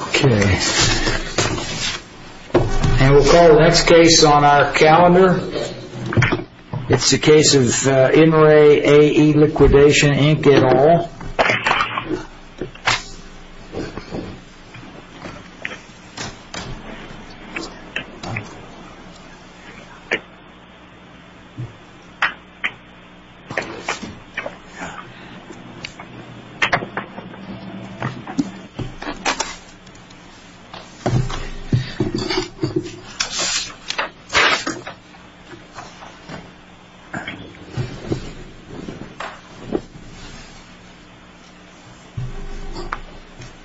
Okay And we'll call the next case on our calendar It's the case of in Ray a a liquidation ink at all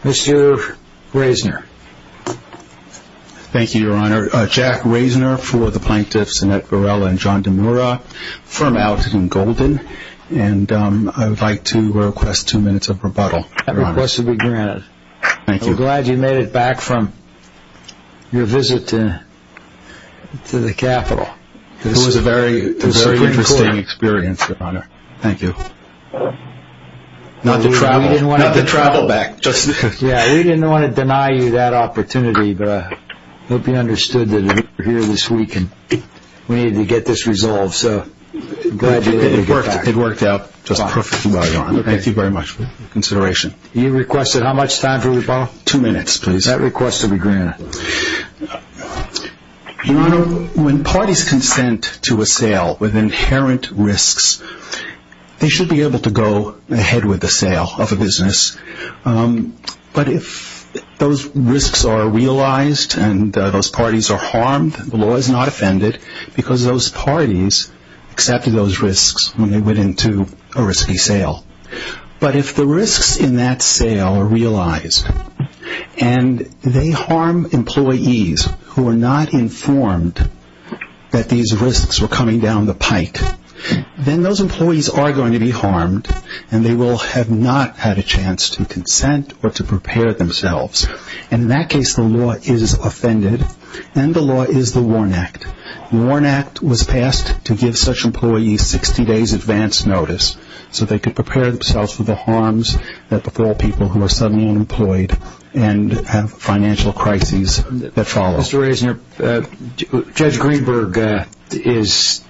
Mr. Mr. raisner Thank you your honor Jack raisner for the plaintiffs and at Borrella and John DeMura from Alton and Golden and I would like to request two minutes of rebuttal Request to be granted. Thank you. Glad you made it back from your visit to To the capital it was a very very interesting experience your honor. Thank you Not to travel you didn't want to travel back just yeah, we didn't want to deny you that opportunity But I hope you understood that here this week, and we need to get this resolved, so It worked out just perfect. Thank you very much consideration. You requested how much time for rebuttal two minutes Please that request to be granted When parties consent to a sale with inherent risks They should be able to go ahead with the sale of a business but if those risks are realized and those parties are harmed the law is not offended because those parties Accepted those risks when they went into a risky sale but if the risks in that sale are realized and They harm employees who are not informed That these risks were coming down the pike Then those employees are going to be harmed And they will have not had a chance to consent or to prepare themselves and in that case the law is Offended and the law is the Warn Act the Warn Act was passed to give such employees 60 days advance notice So they could prepare themselves for the harms that before people who are suddenly unemployed and have financial crises that follow Judge Greenberg is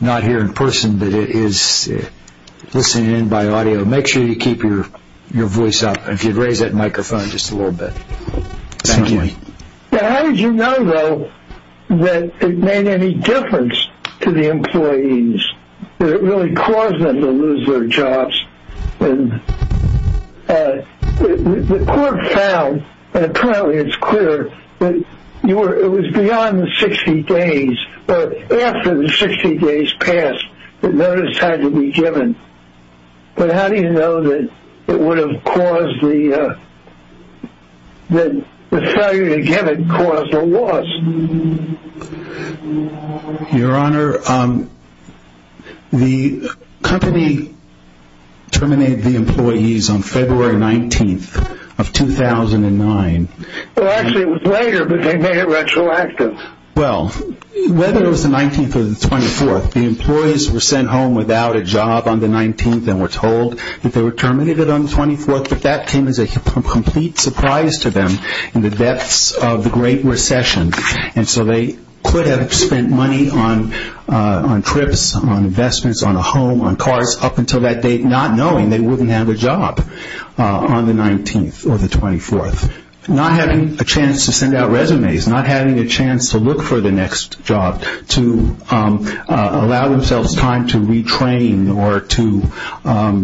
Not here in person, but it is Listening in by audio make sure you keep your your voice up if you'd raise that microphone just a little bit How did you know though that it made any difference to the employees That it really caused them to lose their jobs The court found Apparently it's clear that you were it was beyond the 60 days After the 60 days passed the notice had to be given but how do you know that it would have caused the Then Your honor The company Terminated the employees on February 19th of 2009 Well Whether it was the 19th or the 24th the employees were sent home without a job on the 19th We're told if they were terminated on the 24th But that came as a complete surprise to them in the depths of the Great Recession And so they could have spent money on On trips on investments on a home on cars up until that date not knowing they wouldn't have a job on the 19th or the 24th not having a chance to send out resumes not having a chance to look for the next job to allow themselves time to retrain or to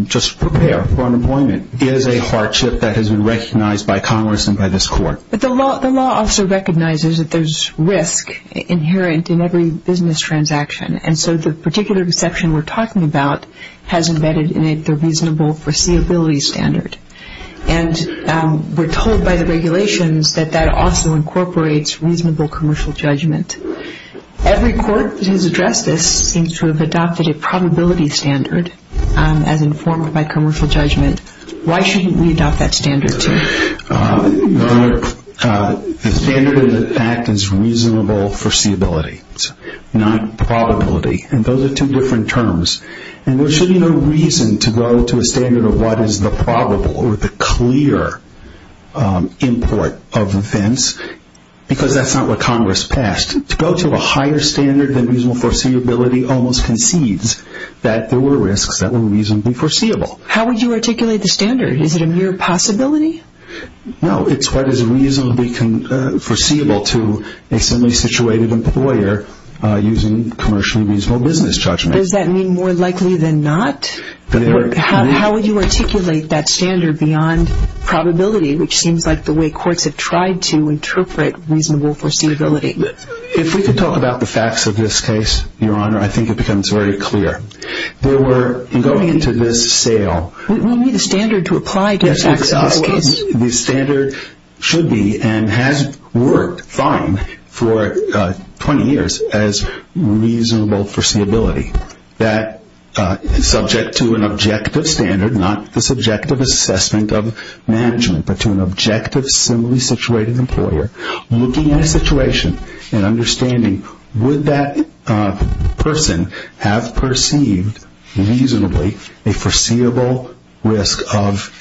Just prepare for unemployment is a hardship that has been recognized by Congress and by this court But the law the law also recognizes that there's risk Inherent in every business transaction and so the particular exception we're talking about has embedded in it they're reasonable foreseeability standard and We're told by the regulations that that also incorporates reasonable commercial judgment Every court has addressed this seems to have adopted a probability standard as informed by commercial judgment Why shouldn't we adopt that standard? The standard in fact is reasonable foreseeability Not probability and those are two different terms and there should be no reason to go to a standard of what is the probable or the clear Import of offense Because that's not what Congress passed to go to a higher standard than reasonable foreseeability Almost concedes that there were risks that were reasonably foreseeable. How would you articulate the standard? Is it a mere possibility? No, it's what is a reasonably? Foreseeable to a simply situated employer Using commercially reasonable business judgment. Does that mean more likely than not? How would you articulate that standard beyond Probability, which seems like the way courts have tried to interpret reasonable foreseeability If we could talk about the facts of this case, your honor, I think it becomes very clear They were going into this sale. We need a standard to apply to this the standard should be and has worked fine for 20 years as reasonable foreseeability that Subject to an objective standard not the subjective assessment of management But to an objective similarly situated employer looking at a situation and understanding would that person have perceived reasonably a foreseeable risk of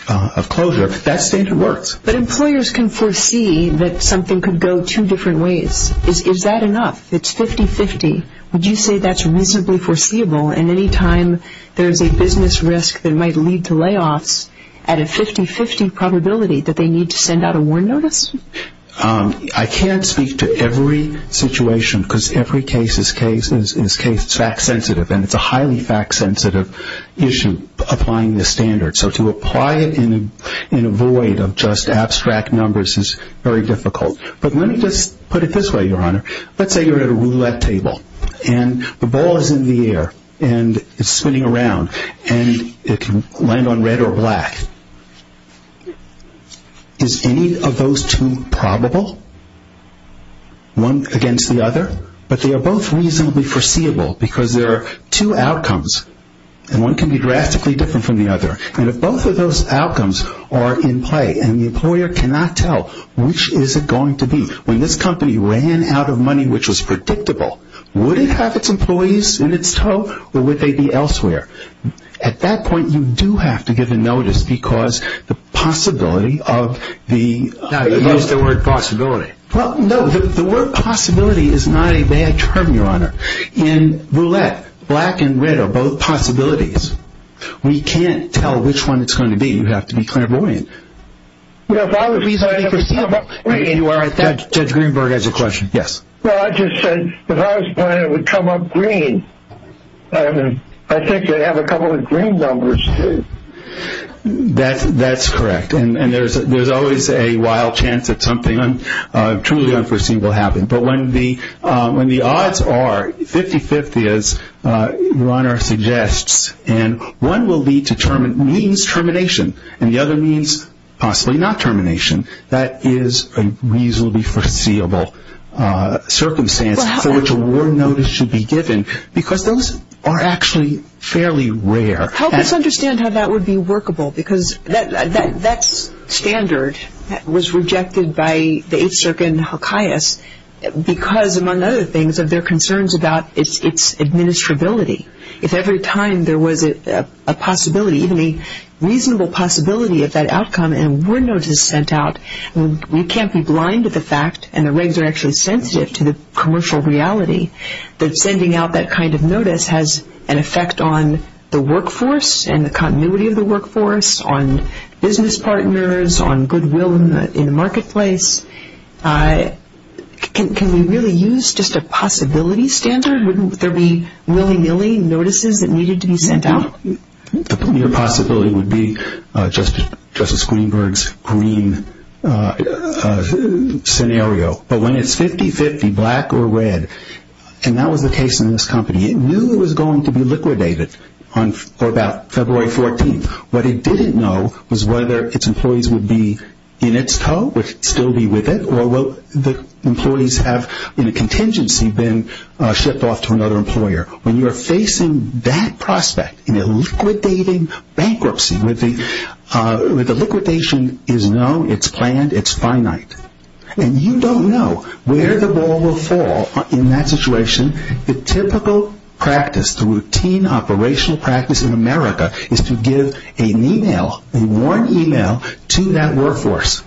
Closure that standard works, but employers can foresee that something could go two different ways. Is that enough? It's 50-50 Would you say that's reasonably foreseeable in any time? There's a business risk that might lead to layoffs at a 50-50 probability that they need to send out a warn notice I can't speak to every situation because every case is case is case It's fact sensitive and it's a highly fact sensitive issue applying the standard So to apply it in in a void of just abstract numbers is very difficult But let me just put it this way your honor. Let's say you're at a roulette table And the ball is in the air and it's spinning around and it can land on red or black Is any of those two probable one against the other but they are both reasonably foreseeable because there are two outcomes and One can be drastically different from the other and if both of those outcomes are in play and the employer cannot tell Which is it going to be when this company ran out of money? Which was predictable would it have its employees in its tow or would they be elsewhere at that point? you do have to give a notice because the possibility of the Word possibility. Well, no, the word possibility is not a bad term your honor in roulette black and red are both possibilities We can't tell which one it's going to be. You have to be clairvoyant If I was reasonably foreseeable Judge Greenberg has a question. Yes. Well, I just said if I was playing it would come up green I think you have a couple of green numbers That's that's correct. And and there's there's always a wild chance that something Truly unforeseen will happen. But when the when the odds are 50-50 as Runner suggests and one will be determined means termination and the other means Possibly not termination. That is a reasonably foreseeable Circumstance for which award notice should be given because those are actually fairly rare How does understand how that would be workable because that that's standard that was rejected by the eight-circuit in Hawkeyes? Because among other things of their concerns about its administrability if every time there was a Possibility even a reasonable possibility of that outcome and we're notice sent out We can't be blind to the fact and the regs are actually sensitive to the commercial reality that sending out that kind of notice has an effect on the workforce and the continuity of the workforce on business partners on goodwill in the marketplace I Can we really use just a possibility standard wouldn't there be willy-nilly notices that needed to be sent out The punier possibility would be just justice Greenberg's green Scenario but when it's 50-50 black or red and that was the case in this company It knew it was going to be liquidated on for about February 14th Was whether its employees would be in its toe which still be with it or will the employees have in a contingency been Shipped off to another employer when you're facing that prospect in a liquidating bankruptcy with the With the liquidation is known. It's planned. It's finite And you don't know where the ball will fall in that situation the typical Practice the routine operational practice in America is to give an email a warn email to that workforce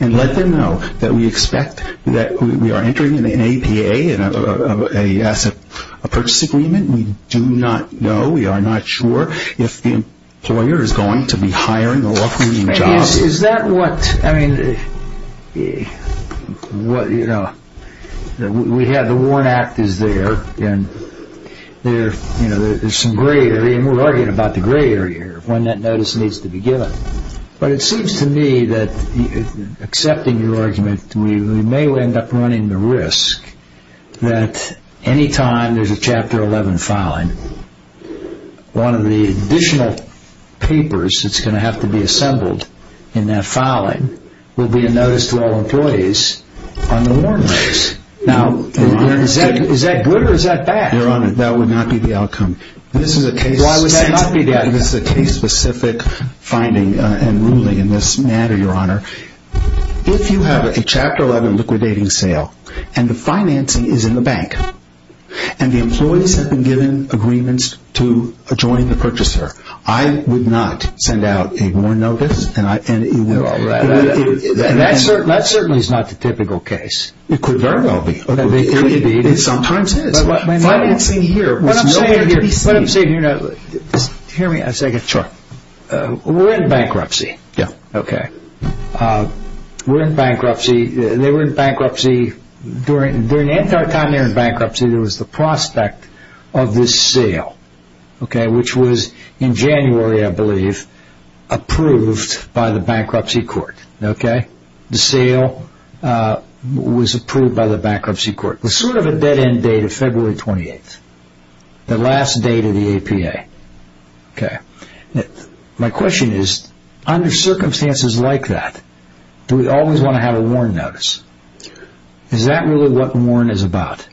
and let them know that we expect that we are entering in an APA and a Asset a purchase agreement. We do not know we are not sure if the employer is going to be hiring or Is that what I mean? What you know we had the warn act is there and They're you know, there's some gray area and we're arguing about the gray area when that notice needs to be given but it seems to me that Accepting your argument. We may end up running the risk that Anytime there's a chapter 11 filing one of the additional Papers, it's gonna have to be assembled in that filing will be a notice to all employees on the warm race now Is that good or is that bad you're on it that would not be the outcome this is a case Why would that not be that is the case specific finding and ruling in this matter your honor? if you have a chapter 11 liquidating sale and the financing is in the bank and The employees have been given agreements to adjoin the purchaser. I would not send out a warn notice and I Sometimes Hear me a second sure We're in bankruptcy. Yeah, okay We're in bankruptcy. They were in bankruptcy During during the entire time they're in bankruptcy. There was the prospect of this sale Okay, which was in January, I believe Approved by the bankruptcy court. Okay, the sale Was approved by the bankruptcy court was sort of a dead-end date of February 28th the last date of the APA Okay My question is under circumstances like that. Do we always want to have a warn notice? Is that really what Warren is about?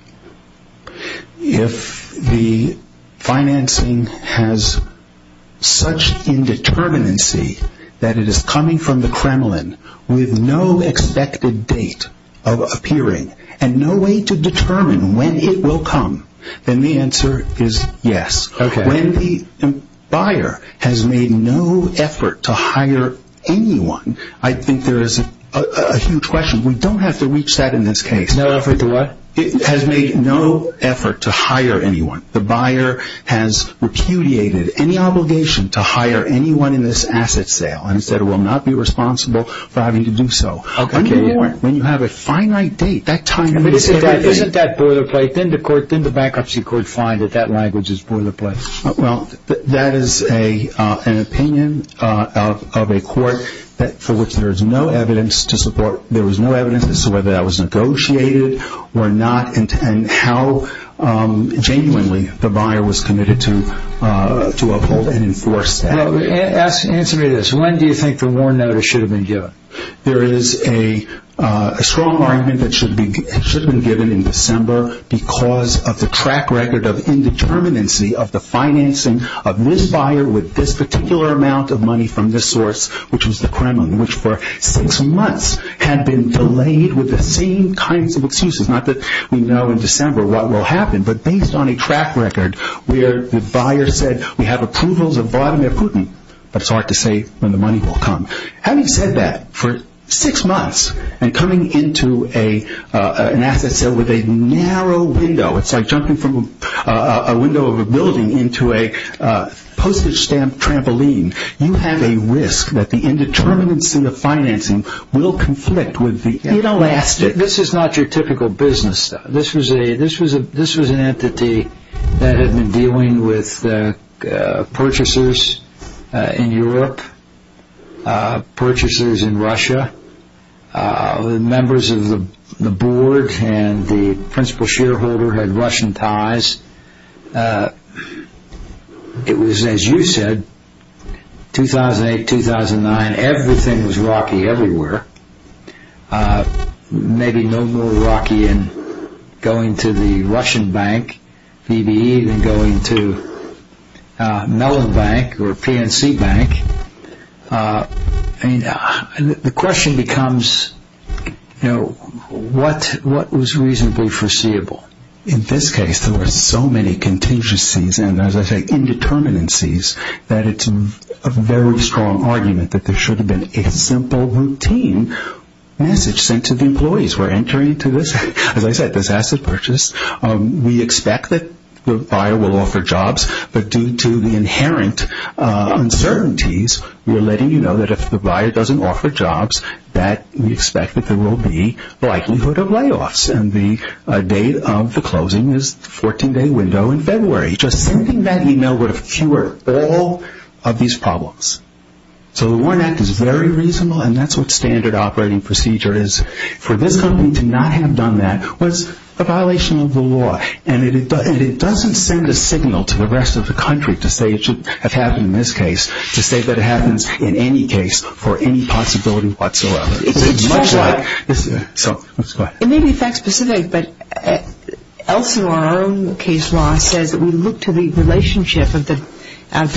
if the financing has Such Indeterminacy that it is coming from the Kremlin with no expected date of appearing and no way to determine when it will come then the answer is yes, okay when the Buyer has made no effort to hire anyone. I think there is a Huge question. We don't have to reach that in this case No effort to what it has made no effort to hire anyone the buyer has Repudiated any obligation to hire anyone in this asset sale and said it will not be responsible for having to do so When you have a finite date that time Isn't that boilerplate then the court then the bankruptcy could find that that language is boilerplate. Well, that is a opinion of a court that for which there is no evidence to support there was no evidence as to whether that was negotiated or not and and how Genuinely the buyer was committed to to uphold and enforce Ask answer me this. When do you think the war notice should have been given? There is a strong argument that should be should have been given in December because of the track record of Indeterminacy of the financing of this buyer with this particular amount of money from this source Which was the Kremlin which for six months had been delayed with the same kinds of excuses not that we know in December What will happen but based on a track record where the buyer said we have approvals of Vladimir Putin that's hard to say when the money will come having said that for six months and coming into a an asset sale with a narrow window, it's like jumping from a window of a building into a postage stamp trampoline You have a risk that the indeterminacy of financing will conflict with the inelastic This is not your typical business. This was a this was a this was an entity that had been dealing with Purchasers in Europe Purchasers in Russia The members of the board and the principal shareholder had Russian ties It was as you said 2008-2009 everything was rocky everywhere Maybe no more rocky and going to the Russian Bank BB even going to Mellon Bank or PNC Bank And the question becomes You know, what what was reasonably foreseeable in this case? There were so many Contingencies and as I say Indeterminacies that it's a very strong argument that there should have been a simple routine Message sent to the employees. We're entering into this as I said this asset purchase We expect that the buyer will offer jobs, but due to the inherent Uncertainties we are letting you know that if the buyer doesn't offer jobs that we expect that there will be Likelihood of layoffs and the date of the closing is 14 day window in February Just sending that email would have cured all of these problems So the Warren Act is very reasonable and that's what standard operating procedure is for this company to not have done That was a violation of the law and it doesn't it doesn't send a signal to the rest of the country to say it should Have happened in this case to say that it happens in any case for any possibility whatsoever This is so it may be fact-specific but Elsewhere our own case law says that we look to the relationship of the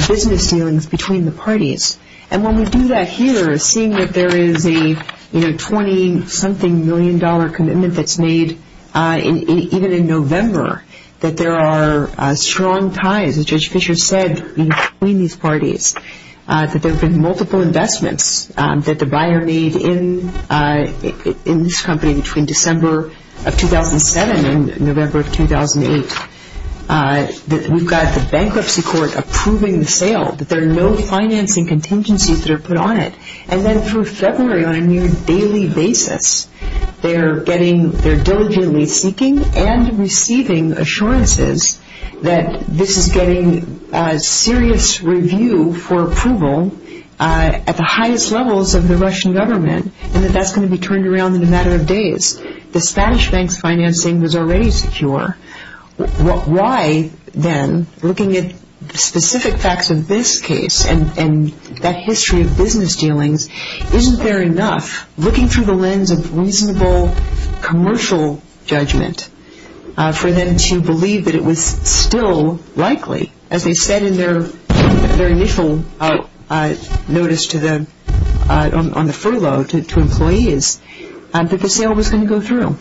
business dealings between the parties and when we do that here is seeing that there is a You know 20 something million dollar commitment that's made In even in November that there are strong ties as judge Fischer said between these parties That there have been multiple investments that the buyer made in In this company between December of 2007 and November of 2008 That we've got the bankruptcy court approving the sale that there are no financing Contingencies that are put on it and then through February on a near daily basis They're getting they're diligently seeking and receiving assurances that this is getting a Review for approval At the highest levels of the Russian government and that that's going to be turned around in a matter of days The Spanish banks financing was already secure Why then looking at specific facts of this case and and that history of business dealings? Isn't there enough looking through the lens of reasonable? commercial judgment For them to believe that it was still likely as they said in their very initial notice to them On the furlough to employees and that the sale was going to go through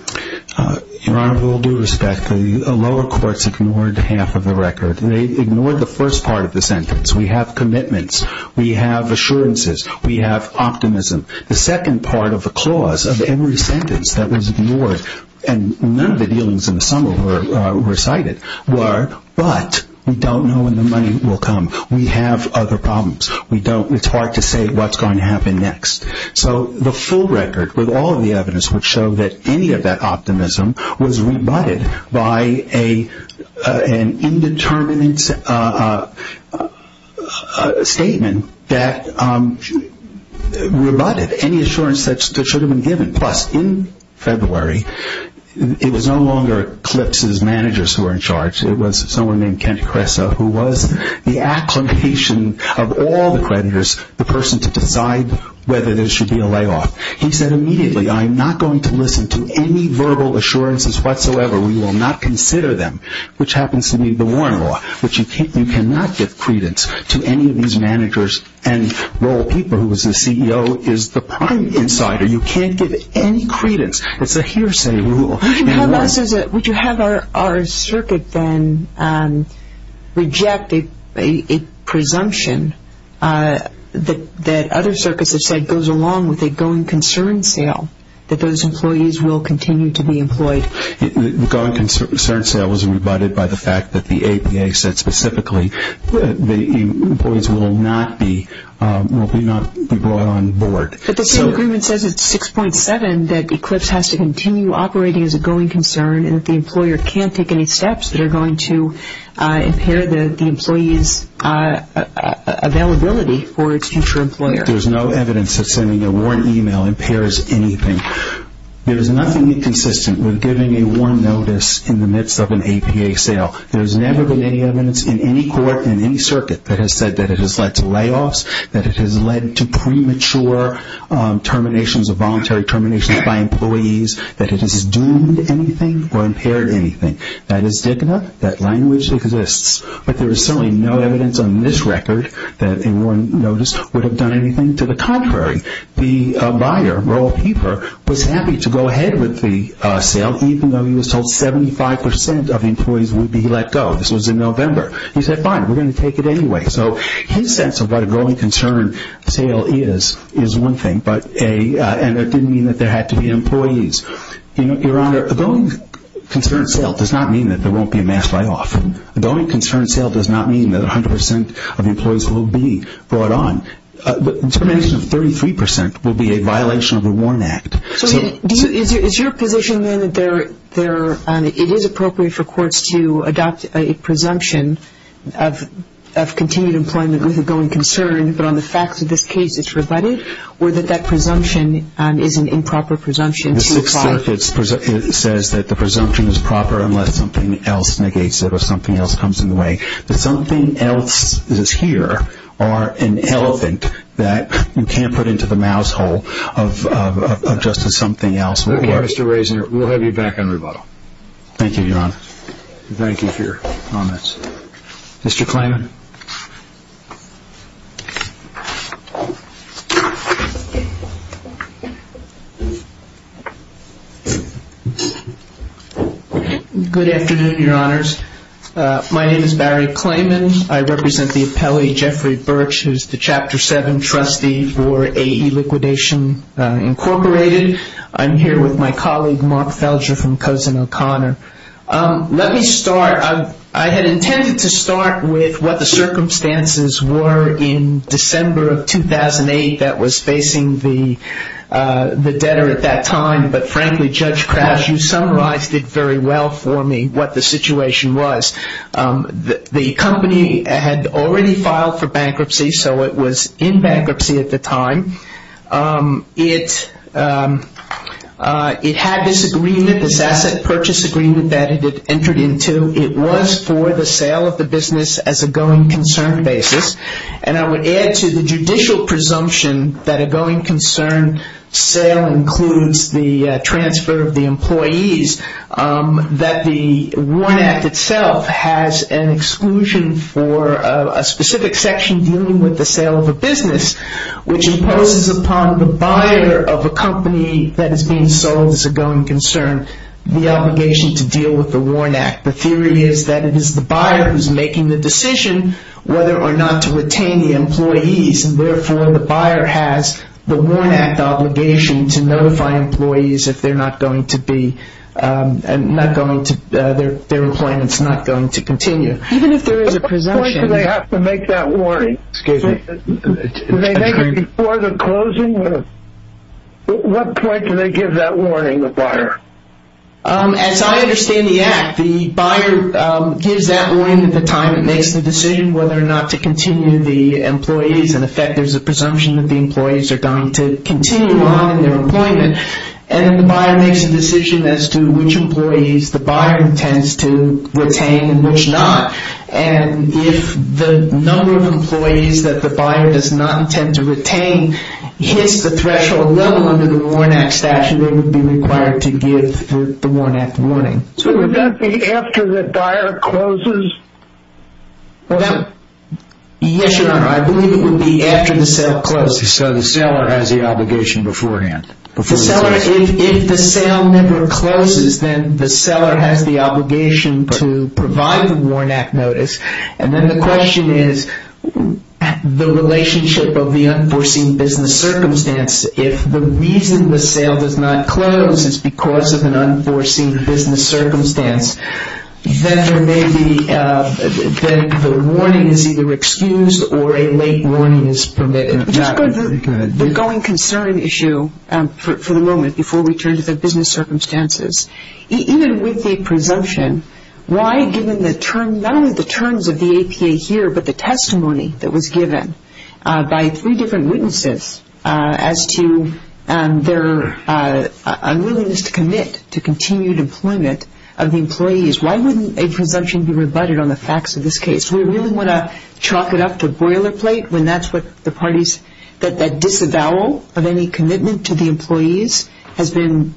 Your honor will do respect the lower courts ignored half of the record. They ignored the first part of the sentence We have commitments. We have assurances we have optimism the second part of the clause of every sentence that was ignored and none of the dealings in the summer were Recited were but we don't know when the money will come. We have other problems We don't it's hard to say what's going to happen next so the full record with all of the evidence would show that any of that optimism was rebutted by a an indeterminate Statement that She Rebutted any assurance that should have been given plus in February It was no longer clips as managers who are in charge It was someone named Kenny Cressa who was the application of all the creditors the person to decide Whether there should be a layoff. He said immediately. I'm not going to listen to any verbal assurances whatsoever We will not consider them which happens to be the Warren law Which you can't you cannot give credence to any of these managers and Lowell people who was the CEO is the prime insider. You can't give any credence. It's a hearsay rule Would you have our our circuit then? Rejected a presumption That that other circus aside goes along with a going concern sale that those employees will continue to be employed Gone concern sale was rebutted by the fact that the APA said specifically the boys will not be Board 6.7 that Eclipse has to continue operating as a going concern and that the employer can't take any steps that are going to impair the employees Availability for its future employer, there's no evidence of sending a warrant email impairs anything There's nothing inconsistent with giving a warrant notice in the midst of an APA sale There's never been any evidence in any court in any circuit that has said that it has led to layoffs that it has led to premature Terminations of voluntary terminations by employees that it is doomed anything or impaired anything that is digna that language Exists, but there is certainly no evidence on this record that a warrant notice would have done anything to the contrary The buyer roll paper was happy to go ahead with the sale Even though he was told 75% of employees would be let go. This was in November. He said fine We're gonna take it anyway So his sense of what a growing concern sale is is one thing but a and it didn't mean that there had to be employees You know your honor the going Concern sale does not mean that there won't be a mass layoff And the only concern sale does not mean that 100% of employees will be brought on Termination of 33% will be a violation of the Warren Act So is your position that there there it is appropriate for courts to adopt a presumption of? Continued employment with a going concern, but on the facts of this case It's rebutted or that that presumption and is an improper presumption It's it says that the presumption is proper unless something else negates it or something else comes in the way Something else is here or an elephant that you can't put into the mousehole of Just as something else. Mr. Raisiner. We'll have you back on rebuttal. Thank you, Your Honor. Thank you for your comments Mr. Klayman Good afternoon, Your Honors. My name is Barry Klayman. I represent the appellee, Jeffrey Birch, who's the Chapter 7 trustee for AE Liquidation Incorporated. I'm here with my colleague, Mark Felger from Cosin O'Connor. Let me start. I had intended to start with what the circumstances were in December of 2008 that was facing the debtor at that time. But frankly, Judge Krause, you summarized it very well for me what the situation was. The company had already filed for bankruptcy, so it was in bankruptcy at the time. It had this agreement, this asset purchase agreement that it had entered into. It was for the sale of the business as a going concern basis. And I would add to the judicial presumption that a going concern sale includes the transfer of the employees, that the WARN Act itself has an exclusion for a specific section dealing with the sale of a business, which imposes upon the buyer of a company that is being sold as a going concern the obligation to deal with the WARN Act. The theory is that it is the buyer who is making the decision whether or not to retain the employees. Therefore, the buyer has the WARN Act obligation to notify employees if their employment is not going to continue. Even if there is a presumption... At what point do they have to make that warning? Excuse me. Do they make it before the closing? At what point do they give that warning to the buyer? As I understand the Act, the buyer gives that warning at the time it makes the decision whether or not to continue the employees. In effect, there is a presumption that the employees are going to continue on in their employment. And then the buyer makes a decision as to which employees the buyer intends to retain and which not. And if the number of employees that the buyer does not intend to retain hits the threshold level under the WARN Act statute, they would be required to give the WARN Act warning. So would that be after the buyer closes? Yes, Your Honor. I believe it would be after the sale closes. So the seller has the obligation beforehand? If the sale never closes, then the seller has the obligation to provide the WARN Act notice. And then the question is the relationship of the unforeseen business circumstance. If the reason the sale does not close is because of an unforeseen business circumstance, then the warning is either excused or a late warning is permitted. The going concern issue for the moment before we turn to the business circumstances. Even with the presumption, why given not only the terms of the APA here, but the testimony that was given by three different witnesses as to their unwillingness to commit to continued employment of the employees, why wouldn't a presumption be rebutted on the facts of this case? Do we really want to chalk it up to boilerplate when that's what the parties, that disavowal of any commitment to the employees has been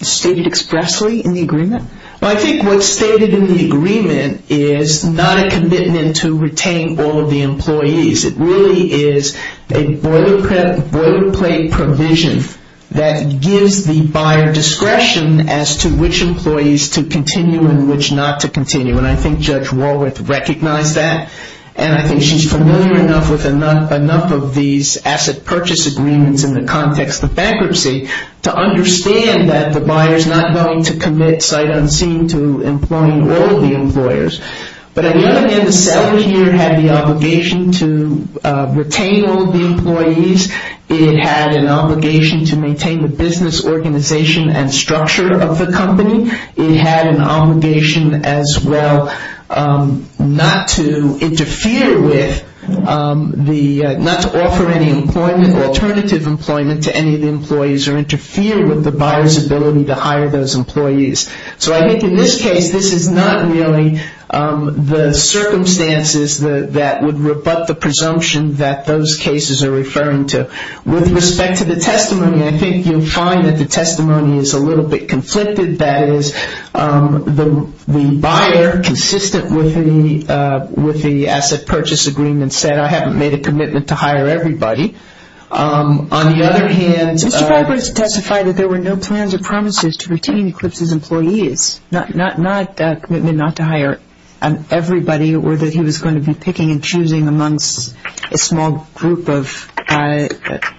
stated expressly in the agreement? Well, I think what's stated in the agreement is not a commitment to retain all of the employees. It really is a boilerplate provision that gives the buyer discretion as to which employees to continue and which not to continue. And I think Judge Walworth recognized that. And I think she's familiar enough with enough of these asset purchase agreements in the context of bankruptcy to understand that the buyer's not going to commit sight unseen to employing all of the employers. But at the end of the day, the seller here had the obligation to retain all of the employees. It had an obligation to maintain the business organization and structure of the company. It had an obligation as well not to interfere with the, not to offer any employment or alternative employment to any of the employees or interfere with the buyer's ability to hire those employees. So I think in this case, this is not really the circumstances that would rebut the presumption that those cases are referring to. With respect to the testimony, I think you'll find that the testimony is a little bit conflicted. That is, the buyer, consistent with the asset purchase agreement, said, I haven't made a commitment to hire everybody. On the other hand, Mr. Piper has testified that there were no plans or promises to retain Eclipse's employees, not a commitment not to hire everybody or that he was going to be picking and choosing amongst a small group of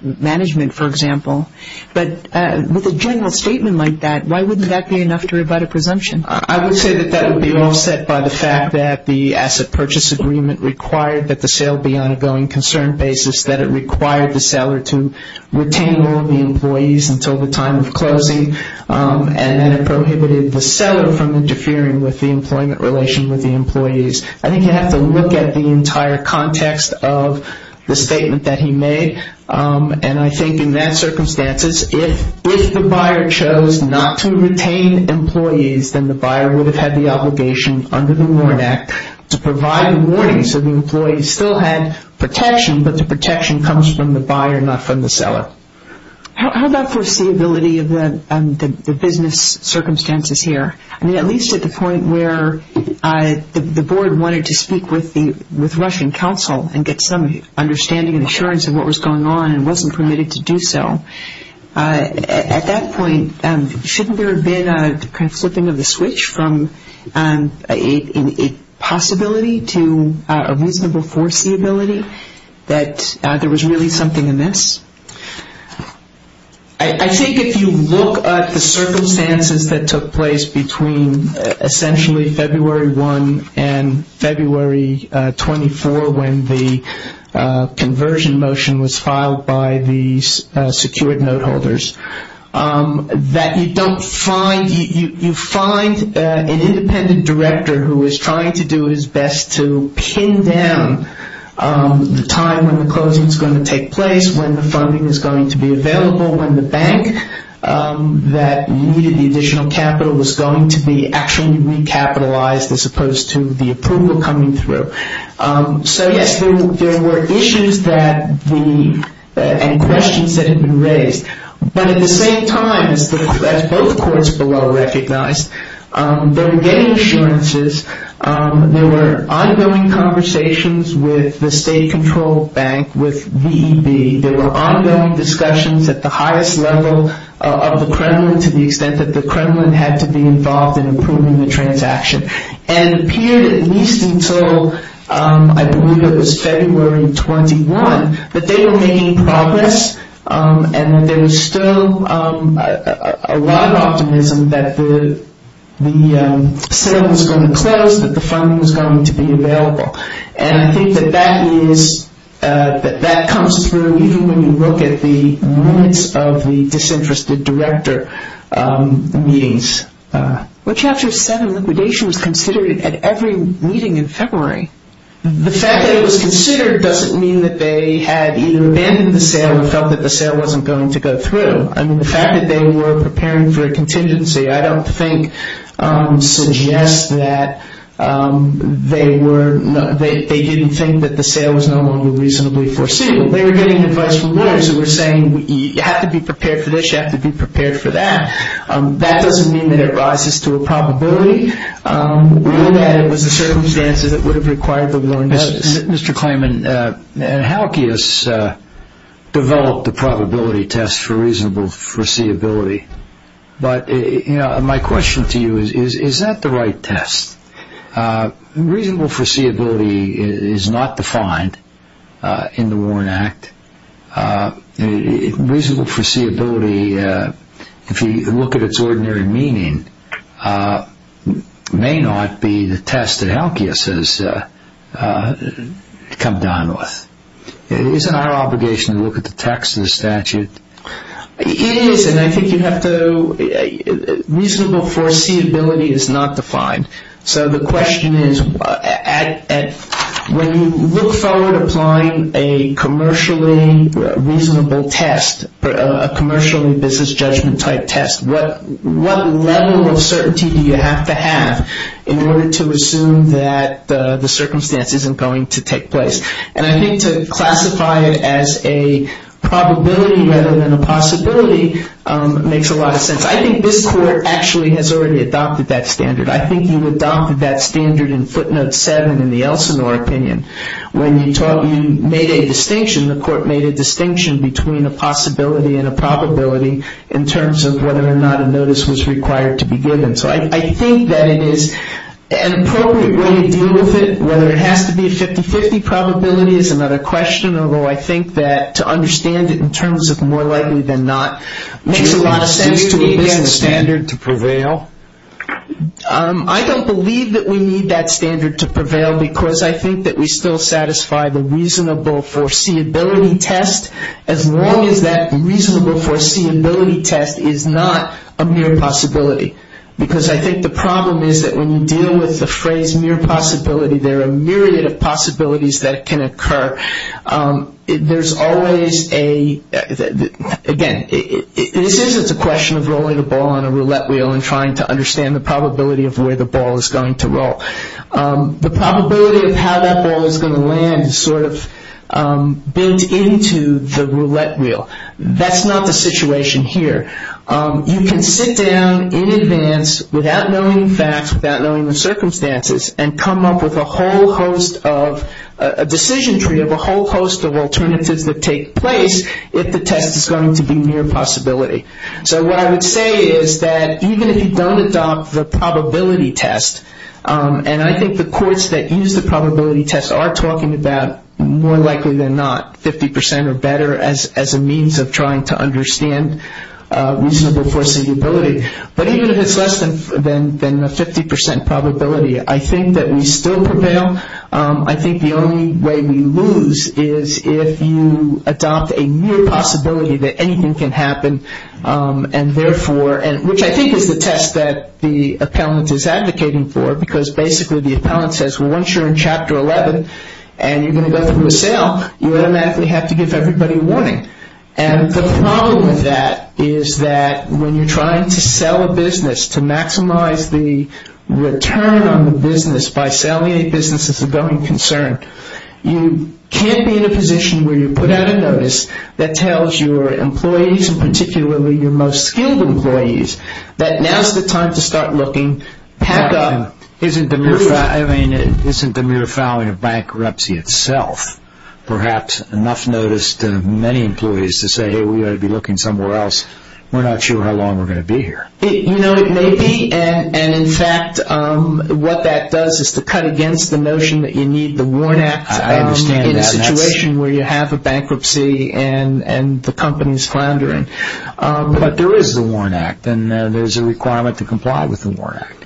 management, for example. But with a general statement like that, why wouldn't that be enough to rebut a presumption? I would say that that would be offset by the fact that the asset purchase agreement required that the sale be on a going concern basis, that it required the seller to retain all of the employees until the time of closing, and that it prohibited the seller from interfering with the employment relation with the employees. I think you have to look at the entire context of the statement that he made. And I think in that circumstances, if the buyer chose not to retain employees, then the buyer would have had the obligation under the Warrant Act to provide a warning so the employee still had protection, but the protection comes from the buyer, not from the seller. How about foreseeability of the business circumstances here? I mean, at least at the point where the board wanted to speak with Russian counsel and get some understanding and assurance of what was going on and wasn't permitted to do so, at that point shouldn't there have been a kind of flipping of the switch from a possibility to a reasonable foreseeability that there was really something amiss? I think if you look at the circumstances that took place between essentially February 1 and February 24 when the conversion motion was filed by the secured note holders, that you find an independent director who is trying to do his best to pin down the time when the closing is going to take place, when the funding is going to be available, when the bank that needed the additional capital was going to be actually recapitalized as opposed to the approval coming through. So yes, there were issues and questions that had been raised. But at the same time, as both courts below recognized, they were getting assurances. There were ongoing conversations with the state-controlled bank, with VEB. There were ongoing discussions at the highest level of the Kremlin to the extent that the Kremlin had to be involved in approving the transaction. And it appeared at least until, I believe it was February 21, that they were making progress and that there was still a lot of optimism that the sale was going to close, that the funding was going to be available. And I think that that comes through even when you look at the limits of the disinterested director meetings. Chapter 7 liquidation was considered at every meeting in February. The fact that it was considered doesn't mean that they had either abandoned the sale or felt that the sale wasn't going to go through. I mean, the fact that they were preparing for a contingency, I don't think suggests that they didn't think that the sale was no longer reasonably foreseeable. They were getting advice from lawyers who were saying, you have to be prepared for this, you have to be prepared for that. That doesn't mean that it rises to a probability. We knew that it was the circumstances that would have required the low indices. Mr. Klayman, Halkius developed the probability test for reasonable foreseeability, but my question to you is, is that the right test? Reasonable foreseeability is not defined in the Warren Act. Reasonable foreseeability, if you look at its ordinary meaning, may not be the test that Halkius has come down with. Isn't our obligation to look at the text of the statute? It is, and I think you have to, reasonable foreseeability is not defined. So the question is, when you look forward to applying a commercially reasonable test, a commercially business judgment type test, what level of certainty do you have to have in order to assume that the circumstance isn't going to take place? And I think to classify it as a probability rather than a possibility makes a lot of sense. I think this court actually has already adopted that standard. I think you adopted that standard in footnote 7 in the Elsinore opinion. When you made a distinction, the court made a distinction between a possibility and a probability in terms of whether or not a notice was required to be given. So I think that it is an appropriate way to deal with it. Whether it has to be a 50-50 probability is another question, although I think that to understand it in terms of more likely than not makes a lot of sense. Do we need that standard to prevail? I don't believe that we need that standard to prevail because I think that we still satisfy the reasonable foreseeability test, as long as that reasonable foreseeability test is not a mere possibility. Because I think the problem is that when you deal with the phrase mere possibility, there are a myriad of possibilities that can occur. Again, this isn't a question of rolling a ball on a roulette wheel and trying to understand the probability of where the ball is going to roll. The probability of how that ball is going to land is sort of built into the roulette wheel. That's not the situation here. You can sit down in advance without knowing the facts, without knowing the circumstances, and come up with a decision tree of a whole host of alternatives that take place if the test is going to be mere possibility. So what I would say is that even if you don't adopt the probability test, and I think the courts that use the probability test are talking about, more likely than not, 50 percent or better as a means of trying to understand reasonable foreseeability. But even if it's less than a 50 percent probability, I think that we still prevail. I think the only way we lose is if you adopt a mere possibility that anything can happen, which I think is the test that the appellant is advocating for, because basically the appellant says, well, once you're in Chapter 11 and you're going to go through a sale, you automatically have to give everybody a warning. And the problem with that is that when you're trying to sell a business, to maximize the return on the business by selling a business as a going concern, you can't be in a position where you put out a notice that tells your employees, and particularly your most skilled employees, that now's the time to start looking back up. Isn't the mere filing of bankruptcy itself perhaps enough notice to many employees to say, hey, we ought to be looking somewhere else. We're not sure how long we're going to be here. You know, it may be. And in fact, what that does is to cut against the notion that you need the WARN Act in a situation where you have a bankruptcy and the company's floundering. But there is the WARN Act, and there's a requirement to comply with the WARN Act.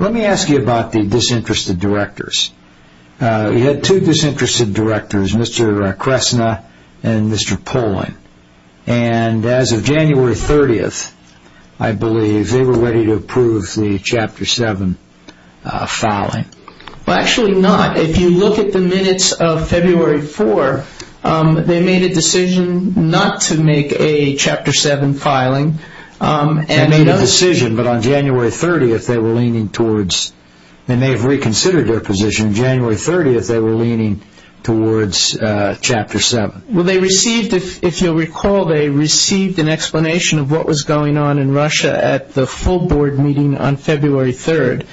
Let me ask you about the disinterested directors. You had two disinterested directors, Mr. Kresna and Mr. Poling. And as of January 30th, I believe, they were ready to approve the Chapter 7 filing. Well, actually not. If you look at the minutes of February 4, they made a decision not to make a Chapter 7 filing. They made a decision, but on January 30th, they were leaning towards They may have reconsidered their position on January 30th. They were leaning towards Chapter 7. Well, they received, if you'll recall, they received an explanation of what was going on in Russia at the full board meeting on February 3rd.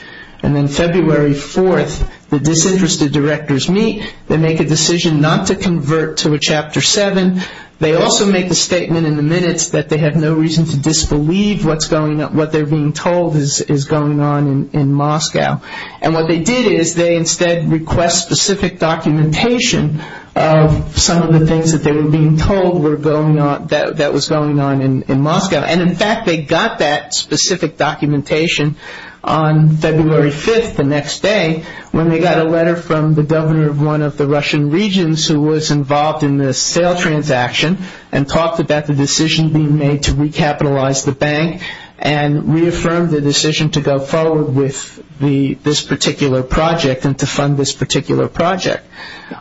And then February 4th, the disinterested directors meet. They make a decision not to convert to a Chapter 7. They also make the statement in the minutes that they have no reason to disbelieve what they're being told is going on in Moscow. And what they did is they instead request specific documentation of some of the things that they were being told that was going on in Moscow. And, in fact, they got that specific documentation on February 5th, the next day, when they got a letter from the governor of one of the Russian regions who was involved in this sale transaction and talked about the decision being made to recapitalize the bank and reaffirmed the decision to go forward with this particular project and to fund this particular project.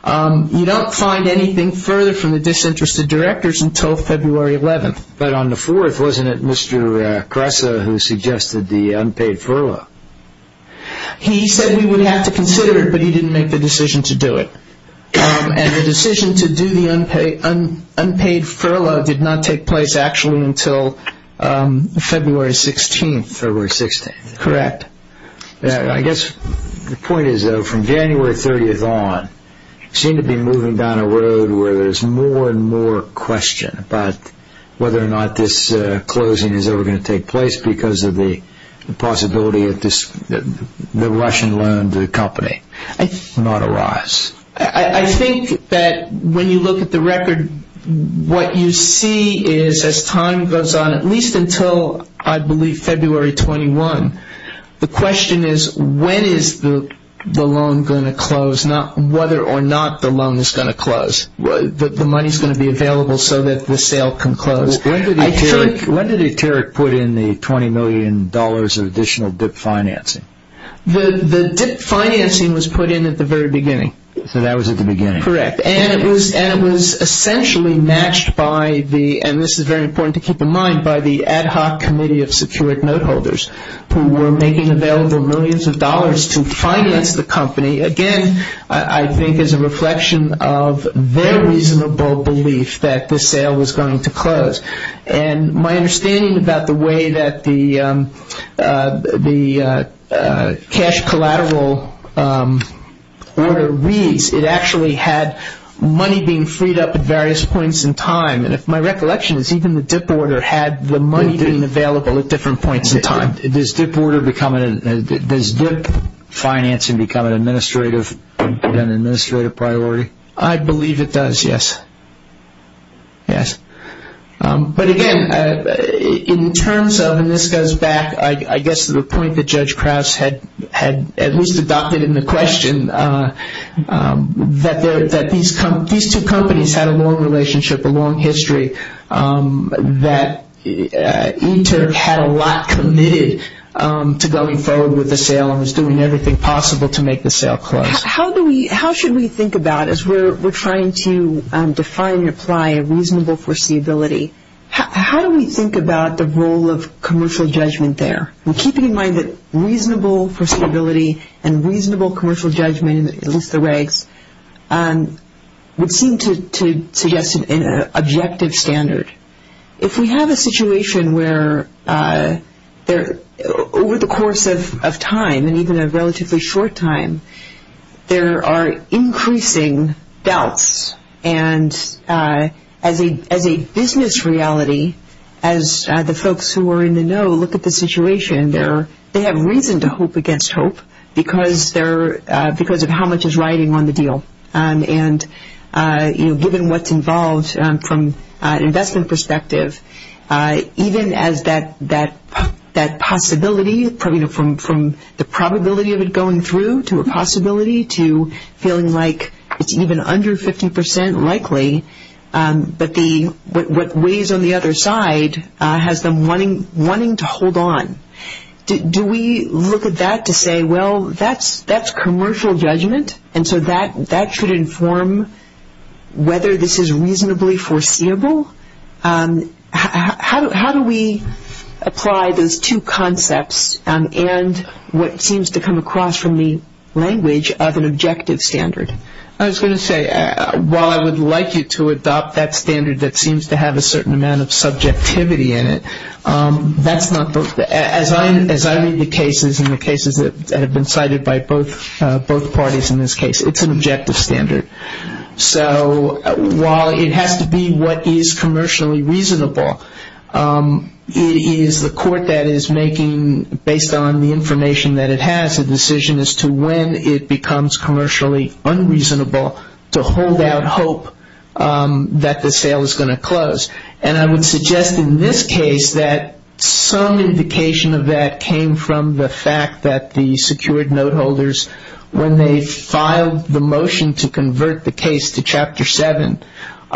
You don't find anything further from the disinterested directors until February 11th. But on the 4th, wasn't it Mr. Kressa who suggested the unpaid furlough? He said we would have to consider it, but he didn't make the decision to do it. And the decision to do the unpaid furlough did not take place actually until February 16th. February 16th. Correct. I guess the point is, though, from January 30th on, you seem to be moving down a road where there's more and more question about whether or not this closing is ever going to take place because of the possibility that the Russian loan to the company might arise. I think that when you look at the record, what you see is as time goes on, at least until I believe February 21, the question is when is the loan going to close, not whether or not the loan is going to close. The money is going to be available so that the sale can close. When did Eteric put in the $20 million of additional dip financing? The dip financing was put in at the very beginning. So that was at the beginning. Correct. And it was essentially matched by the, and this is very important to keep in mind, by the ad hoc committee of security note holders who were making available millions of dollars to finance the company, again, I think is a reflection of their reasonable belief that the sale was going to close. And my understanding about the way that the cash collateral order reads, it actually had money being freed up at various points in time. And if my recollection is even the dip order had the money being available at different points in time. Does dip financing become an administrative priority? I believe it does, yes. Yes. But again, in terms of, and this goes back I guess to the point that Judge Krause had at least adopted in the question, that these two companies had a long relationship, a long history, that Inter had a lot committed to going forward with the sale and was doing everything possible to make the sale close. How should we think about, as we're trying to define and apply a reasonable foreseeability, how do we think about the role of commercial judgment there? And keeping in mind that reasonable foreseeability and reasonable commercial judgment, at least the regs, would seem to suggest an objective standard. If we have a situation where over the course of time and even a relatively short time, there are increasing doubts and as a business reality, as the folks who are in the know look at the situation, they have reason to hope against hope because of how much is riding on the deal. And given what's involved from an investment perspective, even as that possibility from the probability of it going through to a possibility to feeling like it's even under 50 percent likely, but what weighs on the other side has them wanting to hold on. Do we look at that to say, well, that's commercial judgment and so that should inform whether this is reasonably foreseeable? How do we apply those two concepts and what seems to come across from the language of an objective standard? I was going to say, while I would like you to adopt that standard that seems to have a certain amount of subjectivity in it, as I read the cases and the cases that have been cited by both parties in this case, it's an objective standard. So while it has to be what is commercially reasonable, it is the court that is making, based on the information that it has, a decision as to when it becomes commercially unreasonable to hold out hope that the sale is going to close. And I would suggest in this case that some indication of that came from the fact that the secured note holders, when they filed the motion to convert the case to Chapter 7,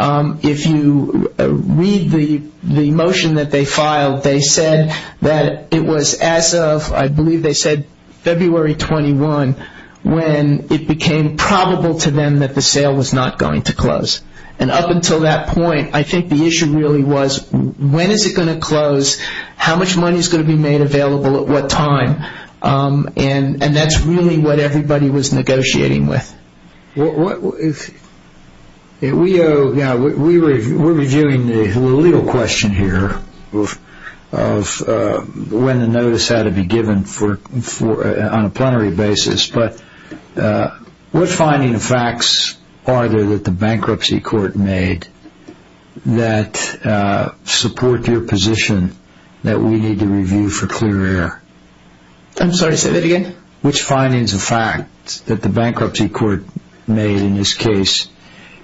if you read the motion that they filed, they said that it was as of, I believe they said February 21, when it became probable to them that the sale was not going to close. And up until that point, I think the issue really was when is it going to close, how much money is going to be made available at what time, and that's really what everybody was negotiating with. We're reviewing the legal question here of when the notice had to be given on a plenary basis, but what finding of facts are there that the bankruptcy court made that support your position that we need to review for clear air? I'm sorry, say that again. Which findings of facts that the bankruptcy court made in this case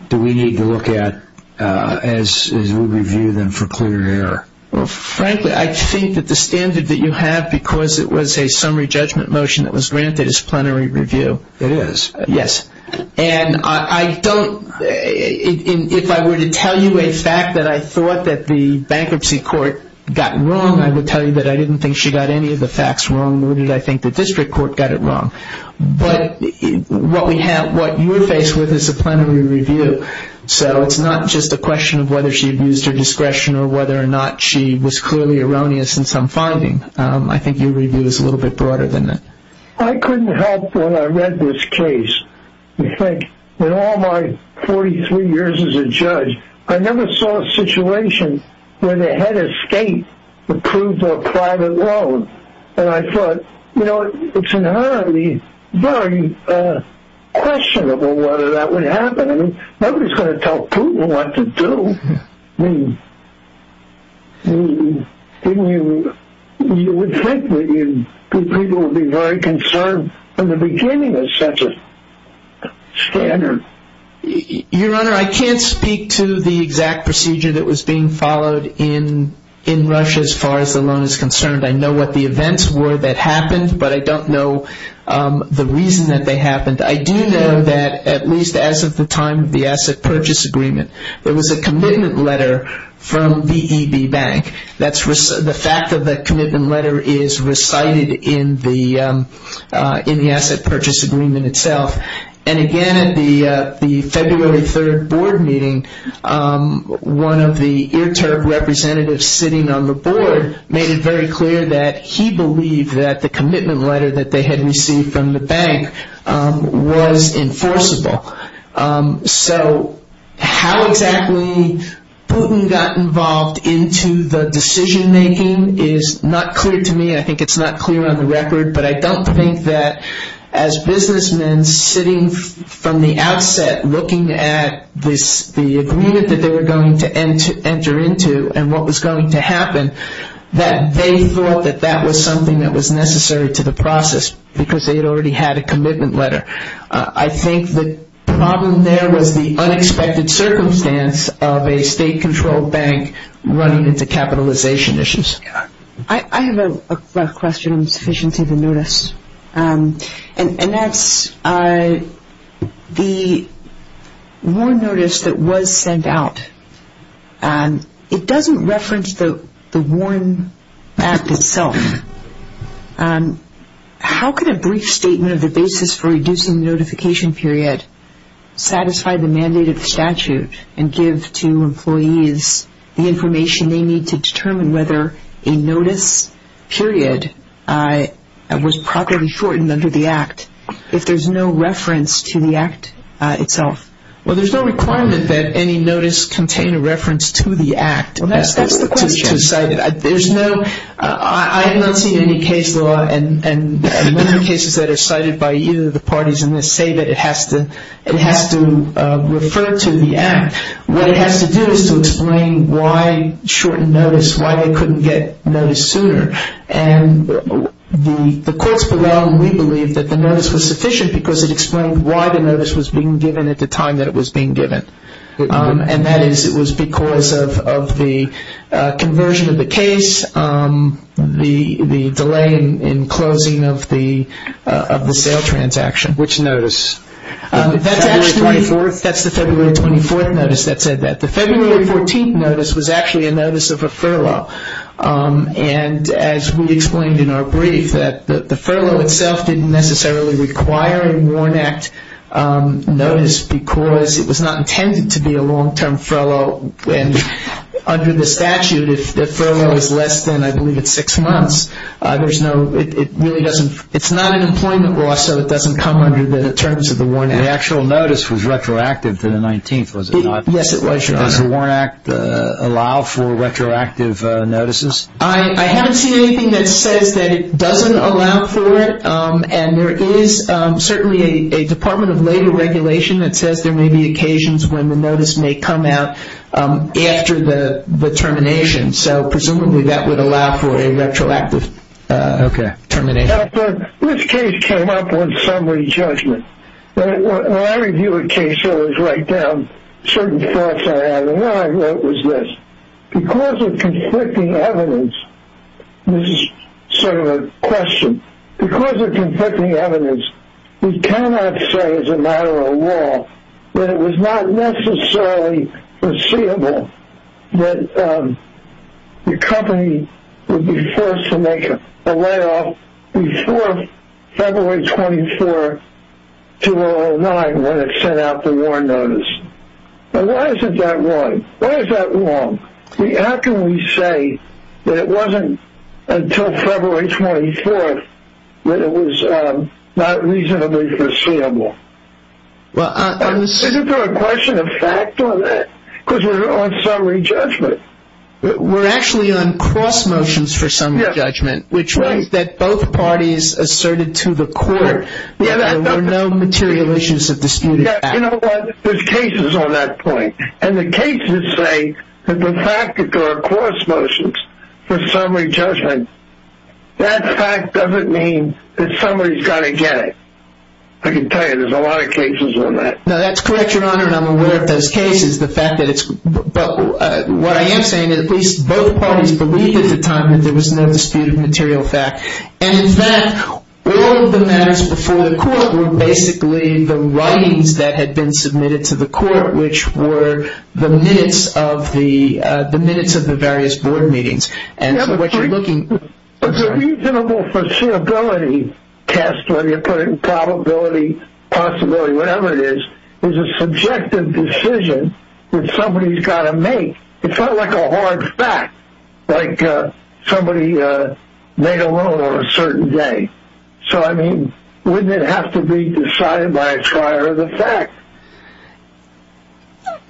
do we need to look at as we review them for clear air? Well, frankly, I think that the standard that you have, because it was a summary judgment motion that was granted as plenary review. It is. Yes. And I don't, if I were to tell you a fact that I thought that the bankruptcy court got wrong, I would tell you that I didn't think she got any of the facts wrong, nor did I think the district court got it wrong. But what you're faced with is a plenary review, so it's not just a question of whether she abused her discretion or whether or not she was clearly erroneous in some finding. I think your review is a little bit broader than that. I couldn't help when I read this case. I think in all my 43 years as a judge, I never saw a situation where they had a state-approved or private loan, and I thought, you know, it's inherently very questionable whether that would happen. I mean, nobody's going to tell Putin what to do. I mean, you would think that people would be very concerned from the beginning of such a standard. Your Honor, I can't speak to the exact procedure that was being followed in Russia as far as the loan is concerned. I know what the events were that happened, but I don't know the reason that they happened. I do know that at least as of the time of the asset purchase agreement, there was a commitment letter from VEB Bank. The fact of that commitment letter is recited in the asset purchase agreement itself. And again, at the February 3rd board meeting, one of the IRTURB representatives sitting on the board made it very clear that he believed that the commitment letter that they had received from the bank was enforceable. So how exactly Putin got involved into the decision-making is not clear to me. I think it's not clear on the record, but I don't think that as businessmen sitting from the outset looking at the agreement that they were going to enter into and what was going to happen, that they thought that that was something that was necessary to the process because they had already had a commitment letter. I think the problem there was the unexpected circumstance of a state-controlled bank running into capitalization issues. I have a question on sufficiency of the notice. And that's the WARN notice that was sent out. It doesn't reference the WARN Act itself. How could a brief statement of the basis for reducing the notification period satisfy the mandate of the statute and give to employees the information they need to determine whether a notice period was properly shortened under the Act if there's no reference to the Act itself? Well, there's no requirement that any notice contain a reference to the Act. That's the question. I have not seen any case law and many cases that are cited by either of the parties in this say that it has to refer to the Act. What it has to do is to explain why shortened notice, why they couldn't get notice sooner. And the courts below, we believe that the notice was sufficient because it explained why the notice was being given at the time that it was being given. And that is it was because of the conversion of the case, the delay in closing of the sale transaction. Which notice? That's the February 24th notice that said that. The February 14th notice was actually a notice of a furlough. And as we explained in our brief, the furlough itself didn't necessarily require a WARN Act notice because it was not intended to be a long-term furlough. And under the statute, if the furlough is less than, I believe, it's six months, it's not an employment law, so it doesn't come under the terms of the WARN Act. The actual notice was retroactive to the 19th, was it not? Yes, it was, Your Honor. Does the WARN Act allow for retroactive notices? I haven't seen anything that says that it doesn't allow for it. And there is certainly a Department of Labor regulation that says there may be occasions when the notice may come out after the termination. So presumably that would allow for a retroactive termination. Okay. This case came up on summary judgment. When I review a case, I always write down certain thoughts I have. And what I wrote was this. Because of conflicting evidence, this is sort of a question, because of conflicting evidence, we cannot say as a matter of law that it was not necessarily foreseeable that the company would be forced to make a layoff before February 24, 2009, when it sent out the WARN notice. Why is that wrong? Why is that wrong? How can we say that it wasn't until February 24 that it was not reasonably foreseeable? Isn't there a question of fact on that? Because we're on summary judgment. We're actually on cross motions for summary judgment, which means that both parties asserted to the court there were no material issues of disputed fact. You know what? There's cases on that point. And the cases say that the fact that there are cross motions for summary judgment, that fact doesn't mean that somebody's got to get it. I can tell you there's a lot of cases on that. No, that's correct, Your Honor, and I'm aware of those cases. But what I am saying is at least both parties believed at the time that there was no disputed material fact. And in fact, all of the matters before the court were basically the writings that had been submitted to the court which were the minutes of the various board meetings. And so what you're looking for is a reasonable foreseeability test, when you put it in probability, possibility, whatever it is, is a subjective decision that somebody's got to make. It's not like a hard fact, like somebody made a loan on a certain day. So, I mean, wouldn't it have to be decided by a prior of the fact?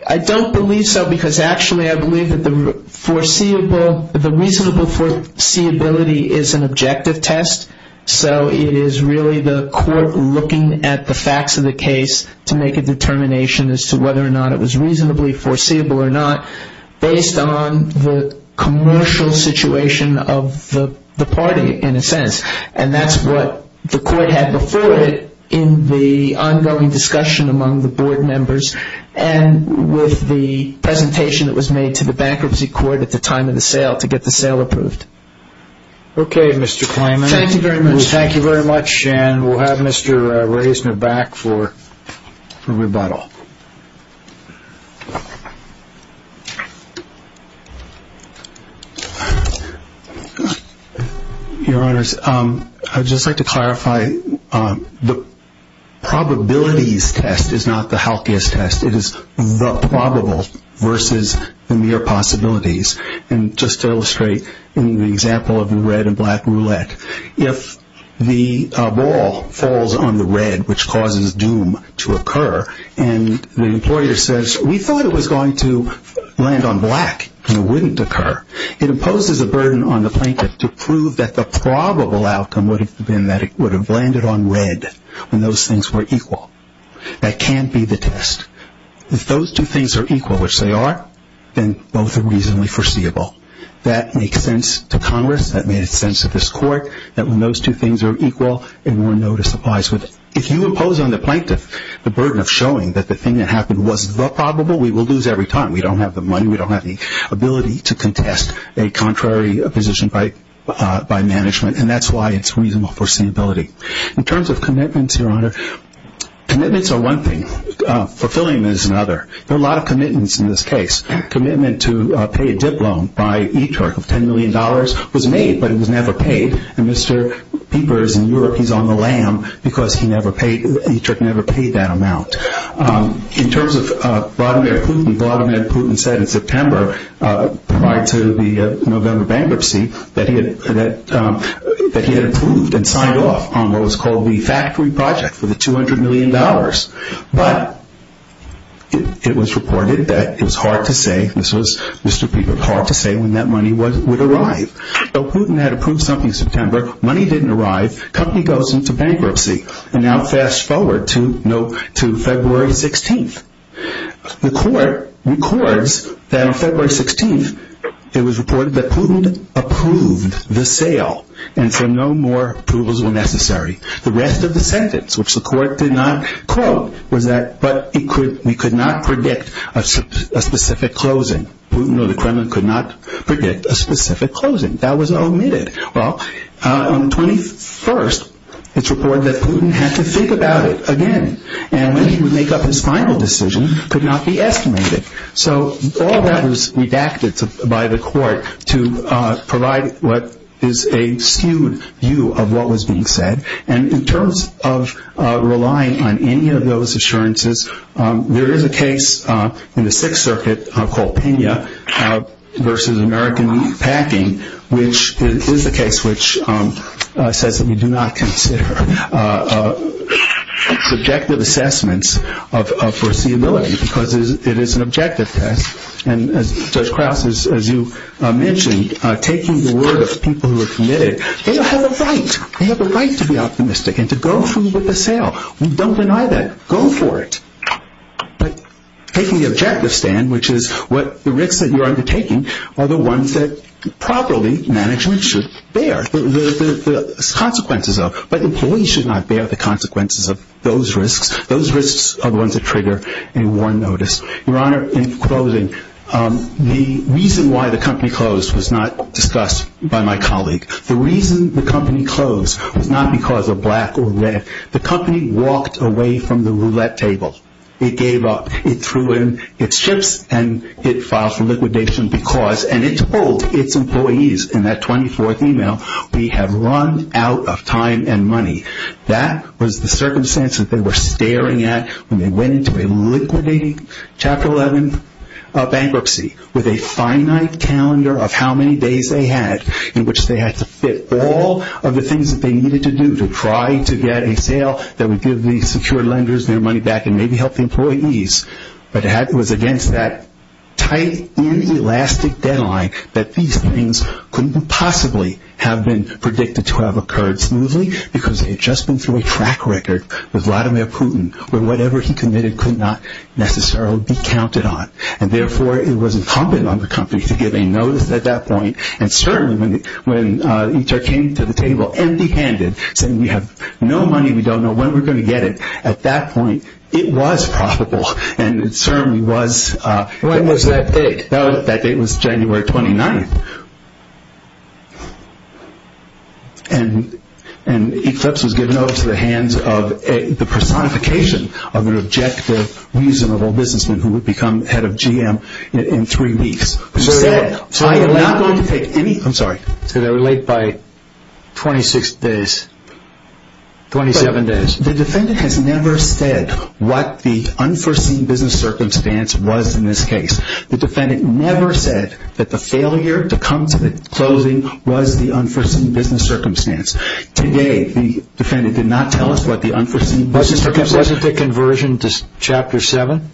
I don't believe so because actually I believe that the reasonable foreseeability is an objective test. So it is really the court looking at the facts of the case to make a determination as to whether or not it was reasonably foreseeable or not based on the commercial situation of the party in a sense. And that's what the court had before it in the ongoing discussion among the board members and with the presentation that was made to the bankruptcy court at the time of the sale to get the sale approved. Okay, Mr. Kleiman. Thank you very much. Thank you very much. And we'll have Mr. Reisner back for rebuttal. Thank you. Your Honors, I'd just like to clarify the probabilities test is not the healthiest test. It is the probable versus the mere possibilities. And just to illustrate in the example of the red and black roulette, if the ball falls on the red which causes doom to occur and the employer says we thought it was going to land on black and it wouldn't occur, it imposes a burden on the plaintiff to prove that the probable outcome would have been that it would have landed on red when those things were equal. That can't be the test. If those two things are equal, which they are, then both are reasonably foreseeable. That makes sense to Congress. That makes sense to this court that when those two things are equal, a warrant notice applies. If you impose on the plaintiff the burden of showing that the thing that happened was the probable, we will lose every time. We don't have the money. We don't have the ability to contest a contrary position by management, and that's why it's reasonable foreseeability. In terms of commitments, Your Honor, commitments are one thing. Fulfilling them is another. There are a lot of commitments in this case. Commitment to pay a dip loan by Iturk of $10 million was made, but it was never paid, and Mr. Pieper is in Europe. He's on the lam because Iturk never paid that amount. In terms of Vladimir Putin, Vladimir Putin said in September prior to the November bankruptcy that he had approved and signed off on what was called the factory project for the $200 million, but it was reported that it was hard to say, this was Mr. Pieper, hard to say when that money would arrive. Though Putin had approved something in September, money didn't arrive, company goes into bankruptcy, and now fast forward to February 16th. The court records that on February 16th it was reported that Putin approved the sale and so no more approvals were necessary. The rest of the sentence, which the court did not quote, was that we could not predict a specific closing. Putin or the Kremlin could not predict a specific closing. That was omitted. Well, on the 21st, it's reported that Putin had to think about it again, and when he would make up his final decision, it could not be estimated. So all that was redacted by the court to provide what is a skewed view of what was being said, and in terms of relying on any of those assurances, there is a case in the Sixth Circuit called Pena versus American Packing, which is the case which says that we do not consider subjective assessments of foreseeability because it is an objective test, and Judge Krauss, as you mentioned, taking the word of people who are committed, they have a right. They have a right to be optimistic and to go through with the sale. We don't deny that. Go for it. But taking the objective stand, which is what the risks that you're undertaking are the ones that probably management should bear the consequences of, but employees should not bear the consequences of those risks. Those risks are the ones that trigger a war notice. Your Honor, in closing, the reason why the company closed was not discussed by my colleague. The reason the company closed was not because of black or red. The company walked away from the roulette table. It gave up. It threw in its chips, and it filed for liquidation because, and it told its employees in that 24th email, we have run out of time and money. That was the circumstance that they were staring at when they went into a liquidating Chapter 11 bankruptcy with a finite calendar of how many days they had in which they had to fit all of the things that they needed to do to try to get a sale that would give the secure lenders their money back and maybe help the employees. But it was against that tight, inelastic deadline that these things couldn't possibly have been predicted to have occurred smoothly because they had just been through a track record with Vladimir Putin where whatever he committed could not necessarily be counted on, and therefore it was incumbent on the company to give a notice at that point, and certainly when ITAR came to the table empty-handed, saying we have no money, we don't know when we're going to get it, at that point it was profitable, and it certainly was. When was that date? That date was January 29th. And Eclipse was given over to the hands of the personification of an objective, reasonable businessman who would become head of GM in three weeks. So they were late by 26 days, 27 days. The defendant has never said what the unforeseen business circumstance was in this case. The defendant never said that the failure to come to the closing was the unforeseen business circumstance. Today the defendant did not tell us what the unforeseen business circumstance was. Wasn't the conversion to Chapter 7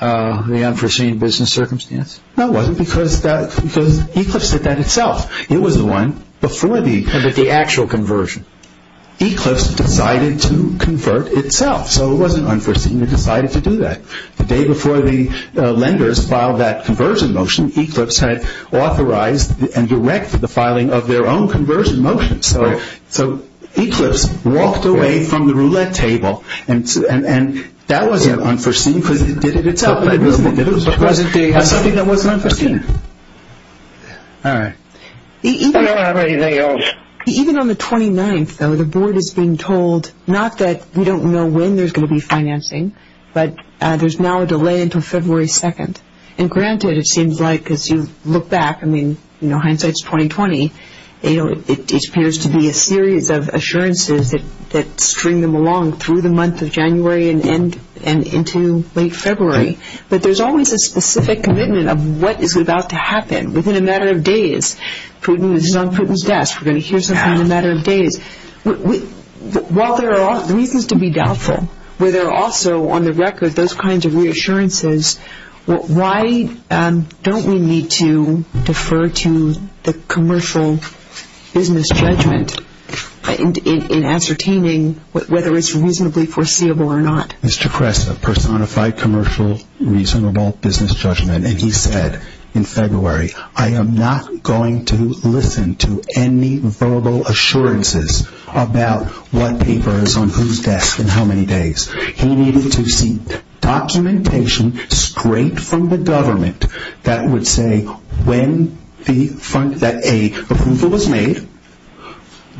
the unforeseen business circumstance? No, it wasn't, because Eclipse did that itself. It was the one before the actual conversion. Eclipse decided to convert itself, so it wasn't unforeseen, they decided to do that. The day before the lenders filed that conversion motion, Eclipse had authorized and directed the filing of their own conversion motion. So Eclipse walked away from the roulette table, and that wasn't unforeseen because it did it itself. It was something that wasn't unforeseen. All right. I don't have anything else. Even on the 29th, though, the board has been told, not that we don't know when there's going to be financing, but there's now a delay until February 2nd. And granted, it seems like, as you look back, I mean, hindsight's 20-20, it appears to be a series of assurances that string them along through the month of January and into late February. But there's always a specific commitment of what is about to happen within a matter of days. Putin is on Putin's desk. We're going to hear something in a matter of days. While there are reasons to be doubtful, where there are also on the record those kinds of reassurances, why don't we need to defer to the commercial business judgment in ascertaining whether it's reasonably foreseeable or not? Mr. Kress, a personified commercial reasonable business judgment, and he said in February, I am not going to listen to any verbal assurances about what paper is on whose desk and how many days. He needed to see documentation straight from the government that would say when the approval was made,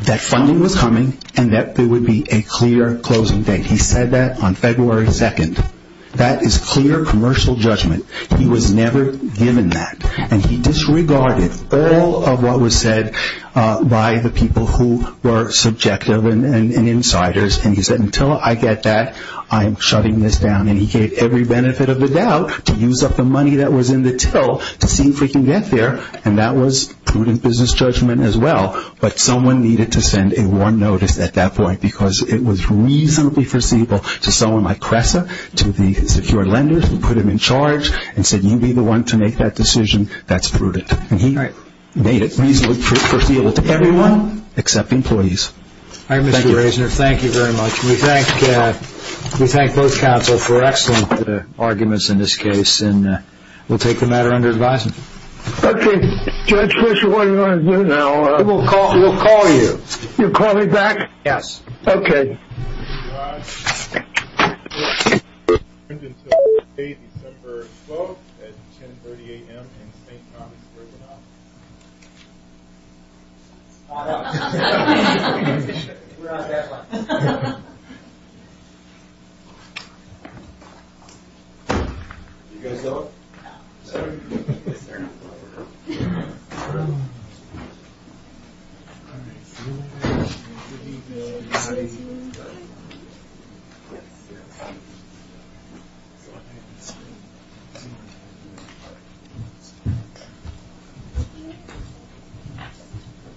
that funding was coming, and that there would be a clear closing date. He said that on February 2nd. That is clear commercial judgment. He was never given that. And he disregarded all of what was said by the people who were subjective and insiders. And he said, until I get that, I am shutting this down. And he gave every benefit of the doubt to use up the money that was in the till to see if we can get there. And that was Putin's business judgment as well. But someone needed to send a warn notice at that point because it was reasonably foreseeable to someone like Kress, to the secure lenders who put him in charge and said, you'll be the one to make that decision. That's prudent. And he made it reasonably foreseeable to everyone except employees. All right, Mr. Raisner, thank you very much. We thank both counsel for excellent arguments in this case. And we'll take the matter under advisement. Okay. Judge Fischer, what do you want to do now? We'll call you. You'll call me back? Yes. Okay. Thank you, guys. Until today, December 12th at 10.30 a.m. in St. Thomas Prison Office. We're on that one. You guys up? Yes, sir. Good evening, everybody. Good evening. Good evening.